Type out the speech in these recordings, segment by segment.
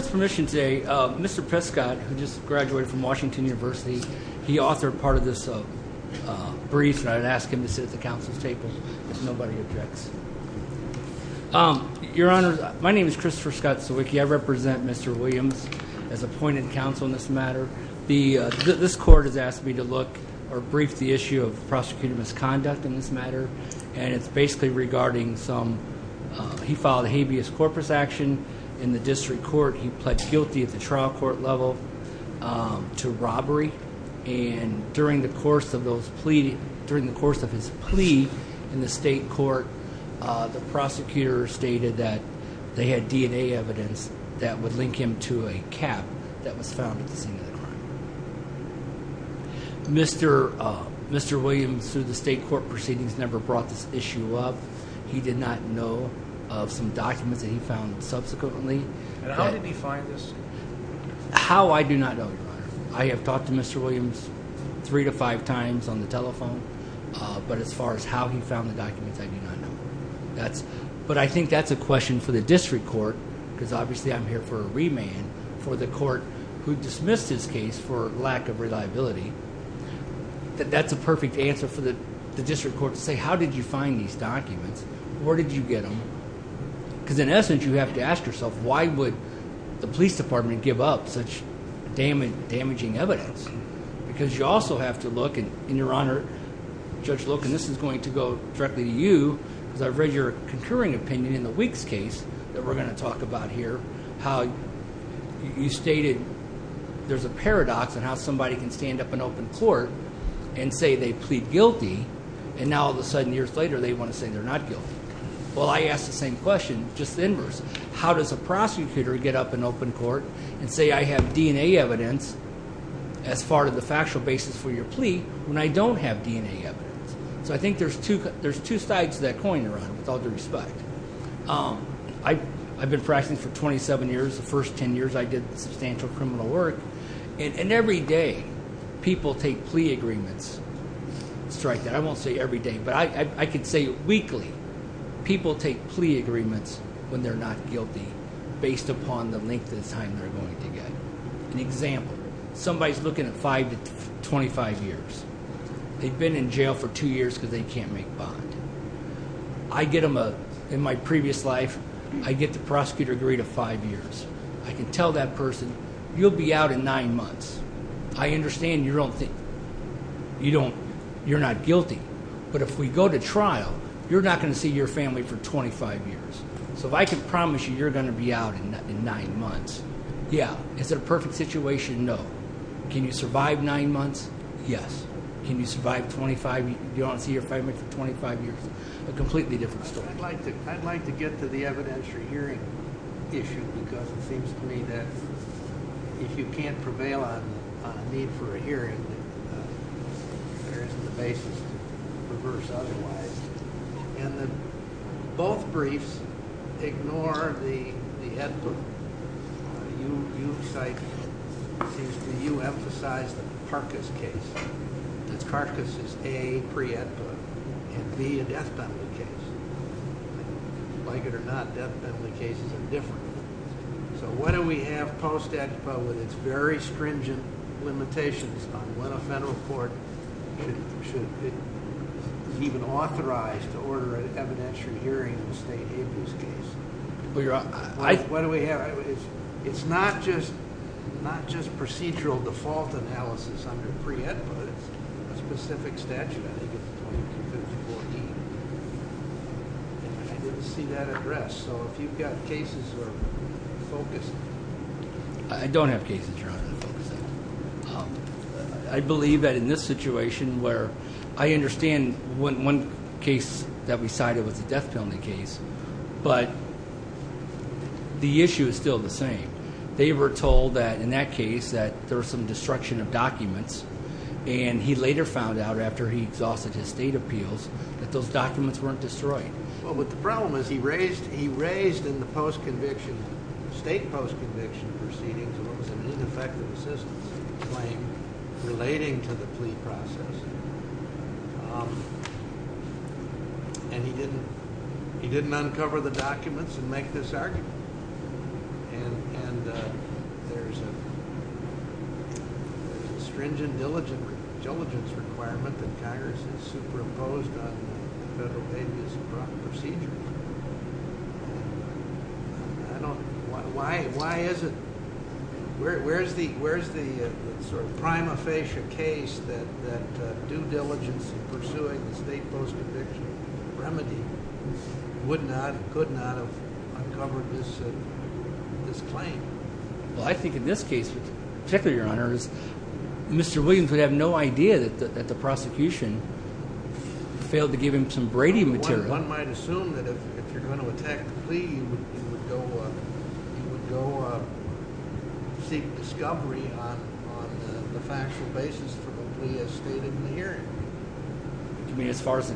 Mr. Prescott, who just graduated from Washington University, he authored part of this brief, and I would ask him to sit at the Council's table, if nobody objects. Your Honor, my name is Christopher Scott Sawicki. I represent Mr. Williams as appointed counsel in this matter. This Court has asked me to look, or brief, the issue of prosecuting misconduct in this matter, and it's basically regarding some... In the District Court, he pled guilty at the trial court level to robbery, and during the course of those plea... During the course of his plea in the State Court, the prosecutor stated that they had DNA evidence that would link him to a cap that was found at the scene of the crime. Mr. Williams, through the State Court proceedings, never brought this issue up. He did not know of some documents that he found subsequently. And how did he find this? How I do not know, Your Honor. I have talked to Mr. Williams three to five times on the telephone, but as far as how he found the documents, I do not know. But I think that's a question for the District Court, because obviously I'm here for a remand, for the Court who dismissed his case for lack of reliability. That's a perfect answer for the District Court to say, how did you find these documents? Where did you get them? Because in essence, you have to ask yourself, why would the Police Department give up such damaging evidence? Because you also have to look, and Your Honor, Judge Loken, this is going to go directly to you, because I've read your concurring opinion in the Weeks case that we're going to talk about here. How you stated there's a paradox in how somebody can stand up in open court and say they plead guilty, and now all of a sudden, years later, they want to say they're not guilty. Well, I ask the same question, just the inverse. How does a prosecutor get up in open court and say I have DNA evidence as part of the factual basis for your plea when I don't have DNA evidence? So I think there's two sides to that coin, Your Honor, with all due respect. I've been practicing for 27 years. The first 10 years, I did substantial criminal work. And every day, people take plea agreements, strike that. I won't say every day, but I can say weekly. People take plea agreements when they're not guilty, based upon the length of time they're going to get. An example, somebody's looking at 5 to 25 years. They've been in jail for 2 years because they can't make bond. In my previous life, I get the prosecutor to agree to 5 years. I can tell that person, you'll be out in 9 months. I understand you're not guilty, but if we go to trial, you're not going to see your family for 25 years. So if I can promise you you're going to be out in 9 months, yeah. Is it a perfect situation? No. Can you survive 9 months? Yes. Can you survive 25 years? Do you want to see your family for 25 years? A completely different story. I'd like to get to the evidentiary hearing issue, because it seems to me that if you can't prevail on a need for a hearing, there isn't a basis to reverse otherwise. Both briefs ignore the Ed book. You emphasize the Parkas case. Parkas is A, a pre-Ed book, and B, a death penalty case. Like it or not, death penalty cases are different. So why do we have post-Ed book with its very stringent limitations on when a federal court should even authorize to order an evidentiary hearing in a state abuse case? It's not just procedural default analysis under pre-Ed book. It's a specific statute. I didn't see that address. So if you've got cases that are focused. I don't have cases you're not going to focus on. I believe that in this situation where I understand one case that we cited was a death penalty case, but the issue is still the same. They were told that in that case that there was some destruction of documents, and he later found out after he exhausted his state appeals that those documents weren't destroyed. Well, but the problem is he raised in the post-conviction, state post-conviction proceedings, what was an ineffective assistance claim relating to the plea process, and he didn't uncover the documents and make this argument. And there's a stringent diligence requirement that Congress has superimposed on federal abuse procedures. I don't – why is it – where's the sort of prima facie case that due diligence in pursuing the state post-conviction remedy would not, could not have uncovered this claim? Well, I think in this case particularly, Your Honor, Mr. Williams would have no idea that the prosecution failed to give him some Brady material. One might assume that if you're going to attack the plea, you would go seek discovery on the factual basis for the plea as stated in the hearing. Do you mean as far as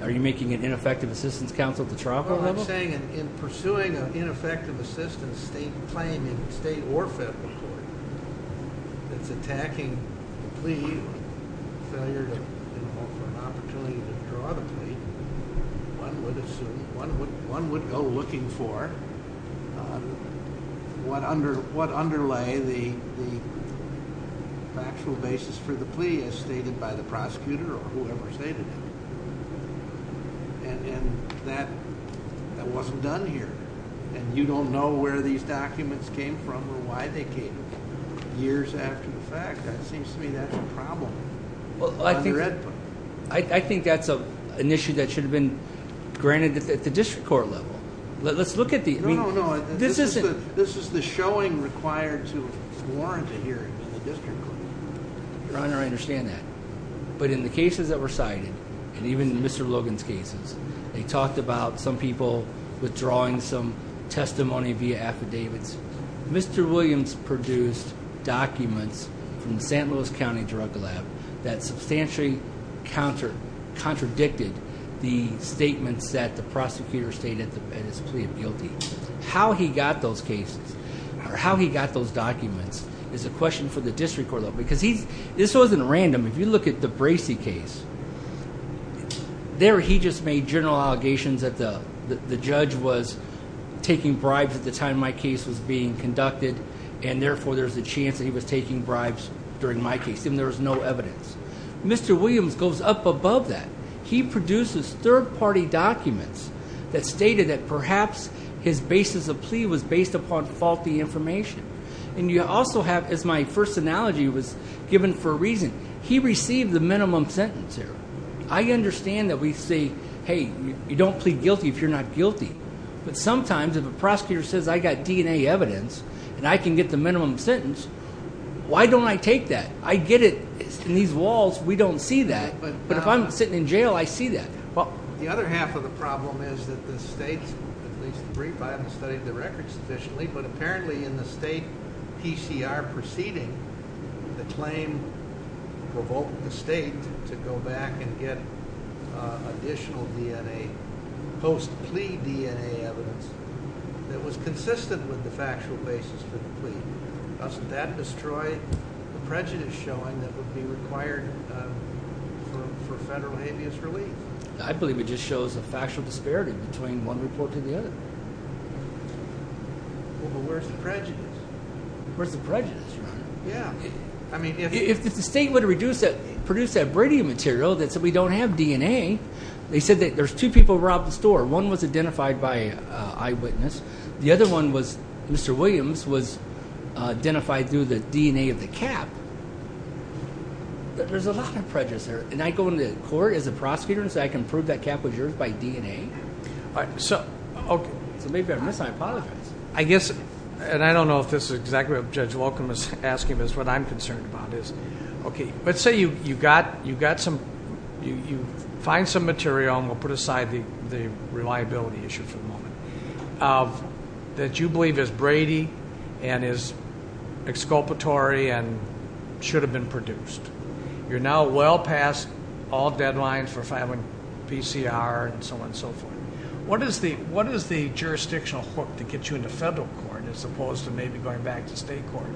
– are you making an ineffective assistance counsel at the trial court level? No, I'm saying in pursuing an ineffective assistance state claim in state or federal court that's attacking the plea or failure to offer an opportunity to withdraw the plea, one would assume – one would go looking for what underlay the factual basis for the plea as stated by the prosecutor or whoever stated it. And that wasn't done here, and you don't know where these documents came from or why they came years after the fact. That seems to me that's a problem. Well, I think that's an issue that should have been granted at the district court level. Let's look at the – I mean, this isn't – No, no, no. This is the showing required to warrant a hearing in the district court. Your Honor, I understand that. But in the cases that were cited, and even in Mr. Logan's cases, they talked about some people withdrawing some testimony via affidavits. Mr. Williams produced documents from the St. Louis County Drug Lab that substantially contradicted the statements that the prosecutor stated at his plea of guilty. How he got those cases or how he got those documents is a question for the district court, though, because he's – this wasn't random. If you look at the Bracey case, there he just made general allegations that the judge was taking bribes at the time my case was being conducted, and therefore there's a chance that he was taking bribes during my case, and there was no evidence. Mr. Williams goes up above that. He produces third-party documents that stated that perhaps his basis of plea was based upon faulty information. And you also have, as my first analogy was given for a reason, he received the minimum sentence there. I understand that we say, hey, you don't plead guilty if you're not guilty. But sometimes if a prosecutor says I got DNA evidence and I can get the minimum sentence, why don't I take that? I get it. In these walls, we don't see that. But if I'm sitting in jail, I see that. The other half of the problem is that the state, at least the brief I haven't studied the records sufficiently, but apparently in the state PCR proceeding, the claim provoked the state to go back and get additional DNA, post-plea DNA evidence, that was consistent with the factual basis for the plea. Doesn't that destroy the prejudice showing that would be required for federal habeas relief? I believe it just shows a factual disparity between one report to the other. Well, but where's the prejudice? Where's the prejudice, Your Honor? Yeah. If the state would have produced that Brady material that said we don't have DNA, they said that there's two people who robbed the store. One was identified by eyewitness. The other one was, Mr. Williams, was identified through the DNA of the cap. There's a lot of prejudice there. And I go into court as a prosecutor and say I can prove that cap was yours by DNA. So maybe I'm missing my apologies. I guess, and I don't know if this is exactly what Judge Locum was asking, but what I'm concerned about is, okay, let's say you find some material and we'll put aside the reliability issue for the moment. That you believe is Brady and is exculpatory and should have been produced. You're now well past all deadlines for filing PCR and so on and so forth. What is the jurisdictional hook to get you into federal court as opposed to maybe going back to state court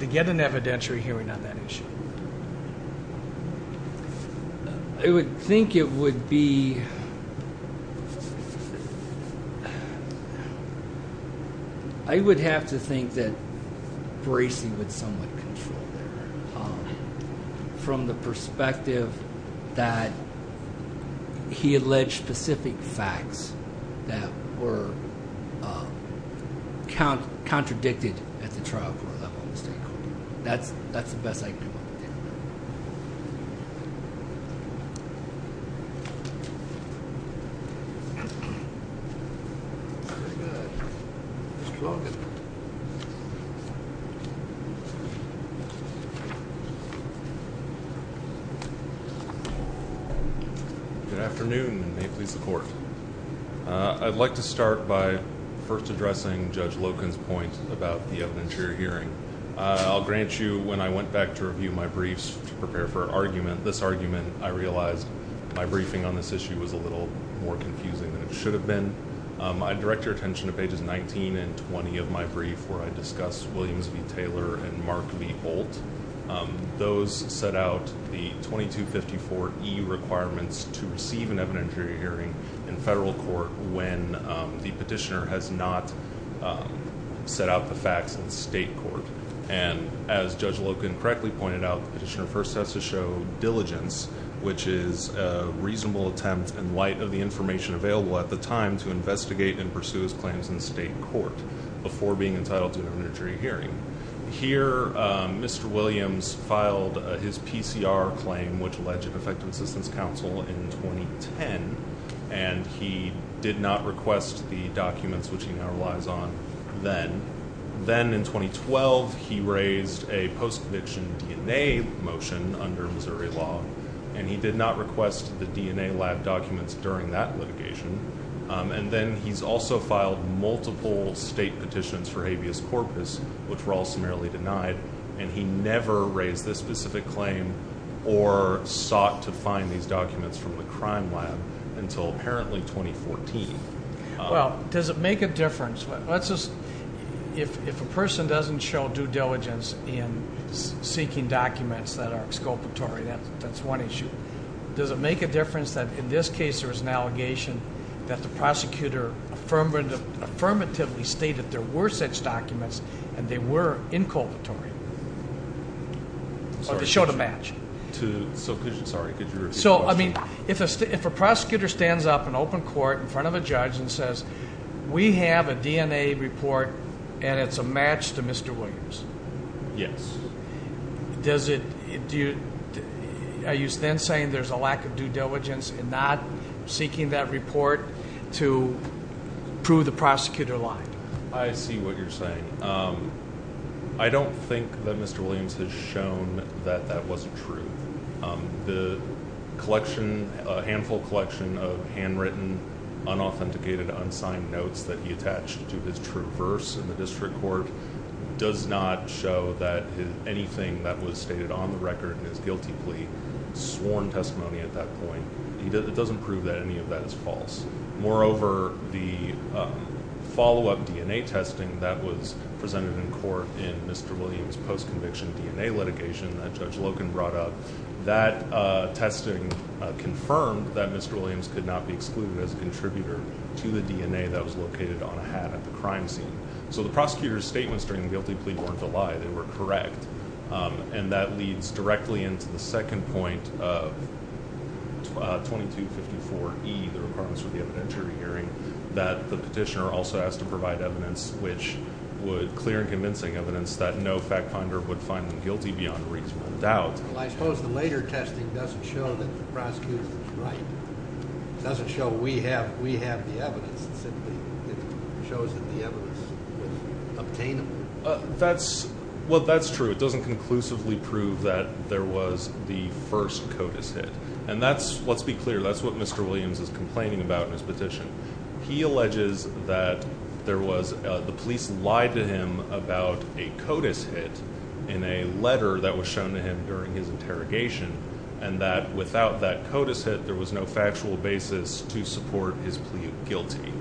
to get an evidentiary hearing on that issue? I would think it would be... I would have to think that Bracey would somewhat control that. From the perspective that he alleged specific facts that were contradicted at the trial court level in the state court. That's the best I can do. Good afternoon and may it please the Court. I'd like to start by first addressing Judge Locum's point about the evidentiary hearing. I'll grant you, when I went back to review my briefs to prepare for argument, this argument I realized my briefing on this issue was a little more confusing than it should have been. I direct your attention to pages 19 and 20 of my brief where I discuss Williams v. Taylor and Mark v. Bolt. Those set out the 2254E requirements to receive an evidentiary hearing in federal court when the petitioner has not set out the facts in state court. As Judge Locum correctly pointed out, the petitioner first has to show diligence, which is a reasonable attempt, in light of the information available at the time, to investigate and pursue his claims in state court before being entitled to an evidentiary hearing. Here, Mr. Williams filed his PCR claim, which alleged effective assistance counsel, in 2010. And he did not request the documents, which he now relies on, then. Then, in 2012, he raised a post-conviction DNA motion under Missouri law. And he did not request the DNA lab documents during that litigation. And then he's also filed multiple state petitions for habeas corpus, which were all summarily denied. And he never raised this specific claim or sought to find these documents from the crime lab. Until, apparently, 2014. Well, does it make a difference? If a person doesn't show due diligence in seeking documents that are exculpatory, that's one issue. Does it make a difference that, in this case, there was an allegation that the prosecutor affirmatively stated there were such documents, and they were inculpatory? Or they showed a match? Sorry, could you repeat the question? So, I mean, if a prosecutor stands up in open court in front of a judge and says, we have a DNA report, and it's a match to Mr. Williams. Yes. Are you then saying there's a lack of due diligence in not seeking that report to prove the prosecutor lying? I see what you're saying. I don't think that Mr. Williams has shown that that wasn't true. The collection, a handful collection of handwritten, unauthenticated, unsigned notes that he attached to his true verse in the district court does not show that anything that was stated on the record in his guilty plea sworn testimony at that point. It doesn't prove that any of that is false. Moreover, the follow-up DNA testing that was presented in court in Mr. Williams' post-conviction DNA litigation that Judge Logan brought up, that testing confirmed that Mr. Williams could not be excluded as a contributor to the DNA that was located on a hat at the crime scene. So the prosecutor's statements during the guilty plea weren't a lie. They were correct. And that leads directly into the second point of 2254E, the requirements for the evidentiary hearing, that the petitioner also has to provide evidence which would clear and convincing evidence that no fact finder would find them guilty beyond reasonable doubt. Well, I suppose the later testing doesn't show that the prosecutor was right. It doesn't show we have the evidence. It simply shows that the evidence was obtainable. Well, that's true. It doesn't conclusively prove that there was the first CODIS hit. And that's, let's be clear, that's what Mr. Williams is complaining about in his petition. He alleges that the police lied to him about a CODIS hit in a letter that was shown to him during his interrogation, and that without that CODIS hit, there was no factual basis to support his plea of guilty.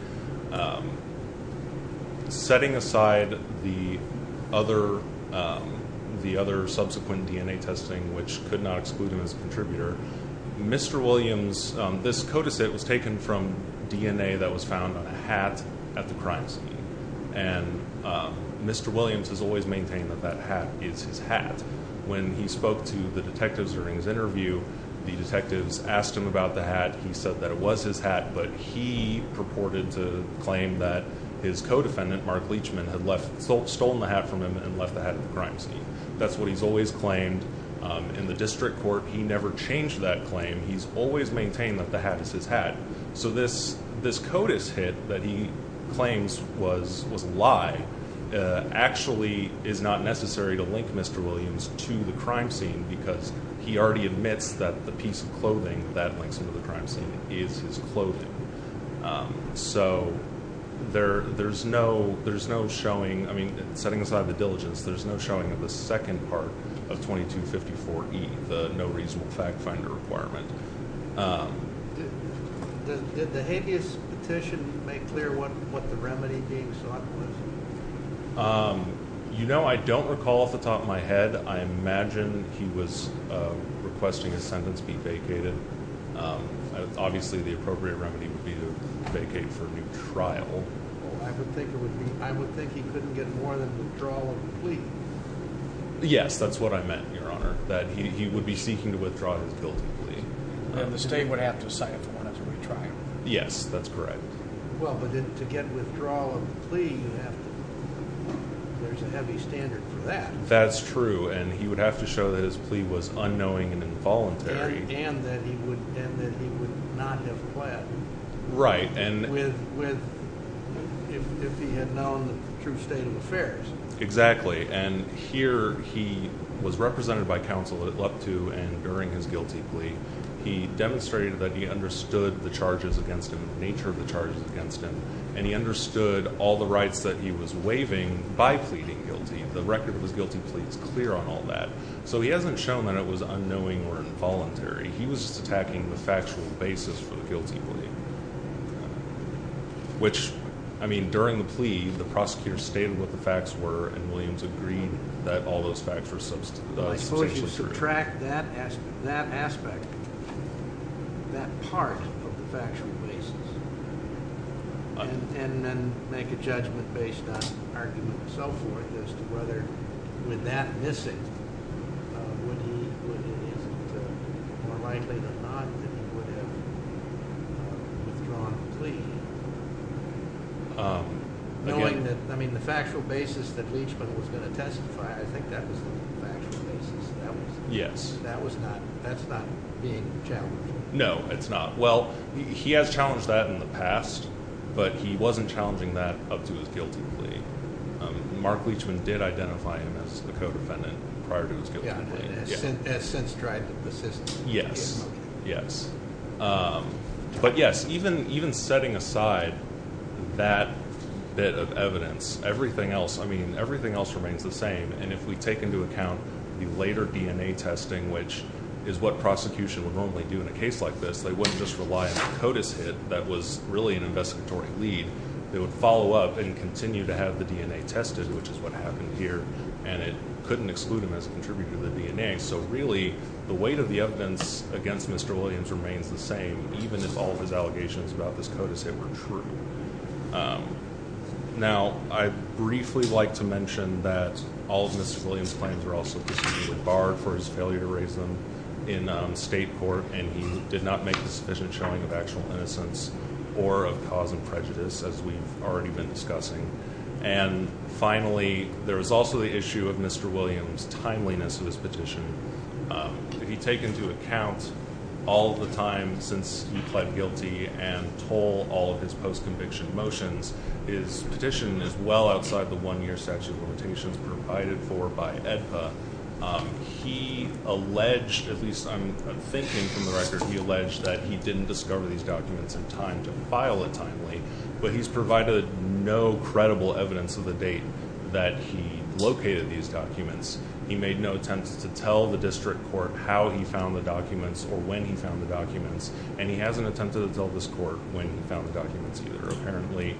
Setting aside the other subsequent DNA testing which could not exclude him as a contributor, Mr. Williams, this CODIS hit was taken from DNA that was found on a hat at the crime scene. And Mr. Williams has always maintained that that hat is his hat. When he spoke to the detectives during his interview, the detectives asked him about the hat. He said that it was his hat, but he purported to claim that his co-defendant, Mark Leachman, had stolen the hat from him and left the hat at the crime scene. That's what he's always claimed. In the district court, he never changed that claim. He's always maintained that the hat is his hat. So this CODIS hit that he claims was a lie actually is not necessary to link Mr. Williams to the crime scene because he already admits that the piece of clothing that links him to the crime scene is his clothing. So there's no showing. I mean, setting aside the diligence, there's no showing of the second part of 2254E, the no reasonable fact finder requirement. Did the habeas petition make clear what the remedy being sought was? You know, I don't recall off the top of my head. I imagine he was requesting his sentence be vacated. Obviously, the appropriate remedy would be to vacate for a new trial. I would think he couldn't get more than withdrawal of the plea. Yes, that's what I meant, Your Honor. That he would be seeking to withdraw his guilty plea. And the state would have to assign it to one as a retrial. Yes, that's correct. Well, but to get withdrawal of the plea, there's a heavy standard for that. That's true, and he would have to show that his plea was unknowing and involuntary. And that he would not have pled. Right. If he had known the true state of affairs. Exactly, and here he was represented by counsel at Leptu, and during his guilty plea, he demonstrated that he understood the charges against him, the nature of the charges against him, and he understood all the rights that he was waiving by pleading guilty. The record of his guilty plea is clear on all that. So he hasn't shown that it was unknowing or involuntary. He was just attacking the factual basis for the guilty plea. Which, I mean, during the plea, the prosecutor stated what the facts were, and Williams agreed that all those facts were substantially true. Well, I suppose you subtract that aspect, that part of the factual basis, and then make a judgment based on argument and so forth, as to whether with that missing, is it more likely than not that he would have withdrawn the plea? Knowing that, I mean, the factual basis that Leachman was going to testify, I think that was the factual basis. Yes. That's not being challenged. No, it's not. Well, he has challenged that in the past, but he wasn't challenging that up to his guilty plea. Mark Leachman did identify him as a co-defendant prior to his guilty plea. Yeah, and has since tried to persist. Yes, yes. But yes, even setting aside that bit of evidence, everything else, I mean, everything else remains the same. And if we take into account the later DNA testing, which is what prosecution would normally do in a case like this, they wouldn't just rely on a CODIS hit that was really an investigatory lead. They would follow up and continue to have the DNA tested, which is what happened here. And it couldn't exclude him as a contributor to the DNA. So really, the weight of the evidence against Mr. Williams remains the same, even if all of his allegations about this CODIS hit were true. Now, I'd briefly like to mention that all of Mr. Williams' claims were also disputed, barred for his failure to raise them in state court. And he did not make a sufficient showing of actual innocence or of cause and prejudice, as we've already been discussing. And finally, there was also the issue of Mr. Williams' timeliness of his petition. If you take into account all of the time since he pled guilty and told all of his post-conviction motions, his petition is well outside the one-year statute of limitations provided for by AEDPA. He alleged, at least I'm thinking from the record, he alleged that he didn't discover these documents in time to file it timely. But he's provided no credible evidence of the date that he located these documents. He made no attempts to tell the district court how he found the documents or when he found the documents. And he hasn't attempted to tell this court when he found the documents either. Apparently,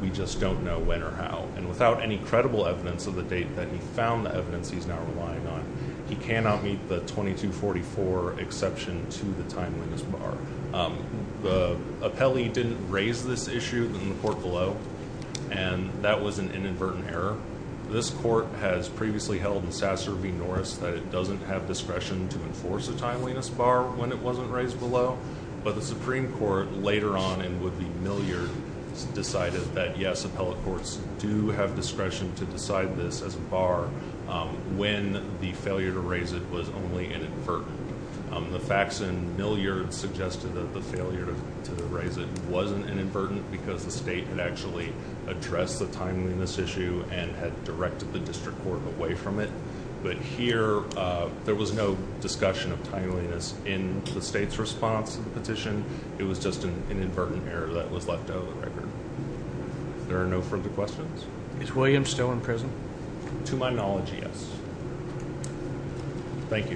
we just don't know when or how. And without any credible evidence of the date that he found the evidence he's now relying on, he cannot meet the 2244 exception to the timeliness bar. The appellee didn't raise this issue in the court below. And that was an inadvertent error. This court has previously held in Sasser v. Norris that it doesn't have discretion to enforce a timeliness bar when it wasn't raised below. But the Supreme Court, later on and with the milliard, decided that, yes, appellate courts do have discretion to decide this as a bar when the failure to raise it was only inadvertent. The facts in milliard suggested that the failure to raise it wasn't inadvertent because the state had actually addressed the timeliness issue and had directed the district court away from it. But here, there was no discussion of timeliness in the state's response to the petition. It was just an inadvertent error that was left out of the record. There are no further questions. Is William still in prison? I acknowledge he is. Thank you.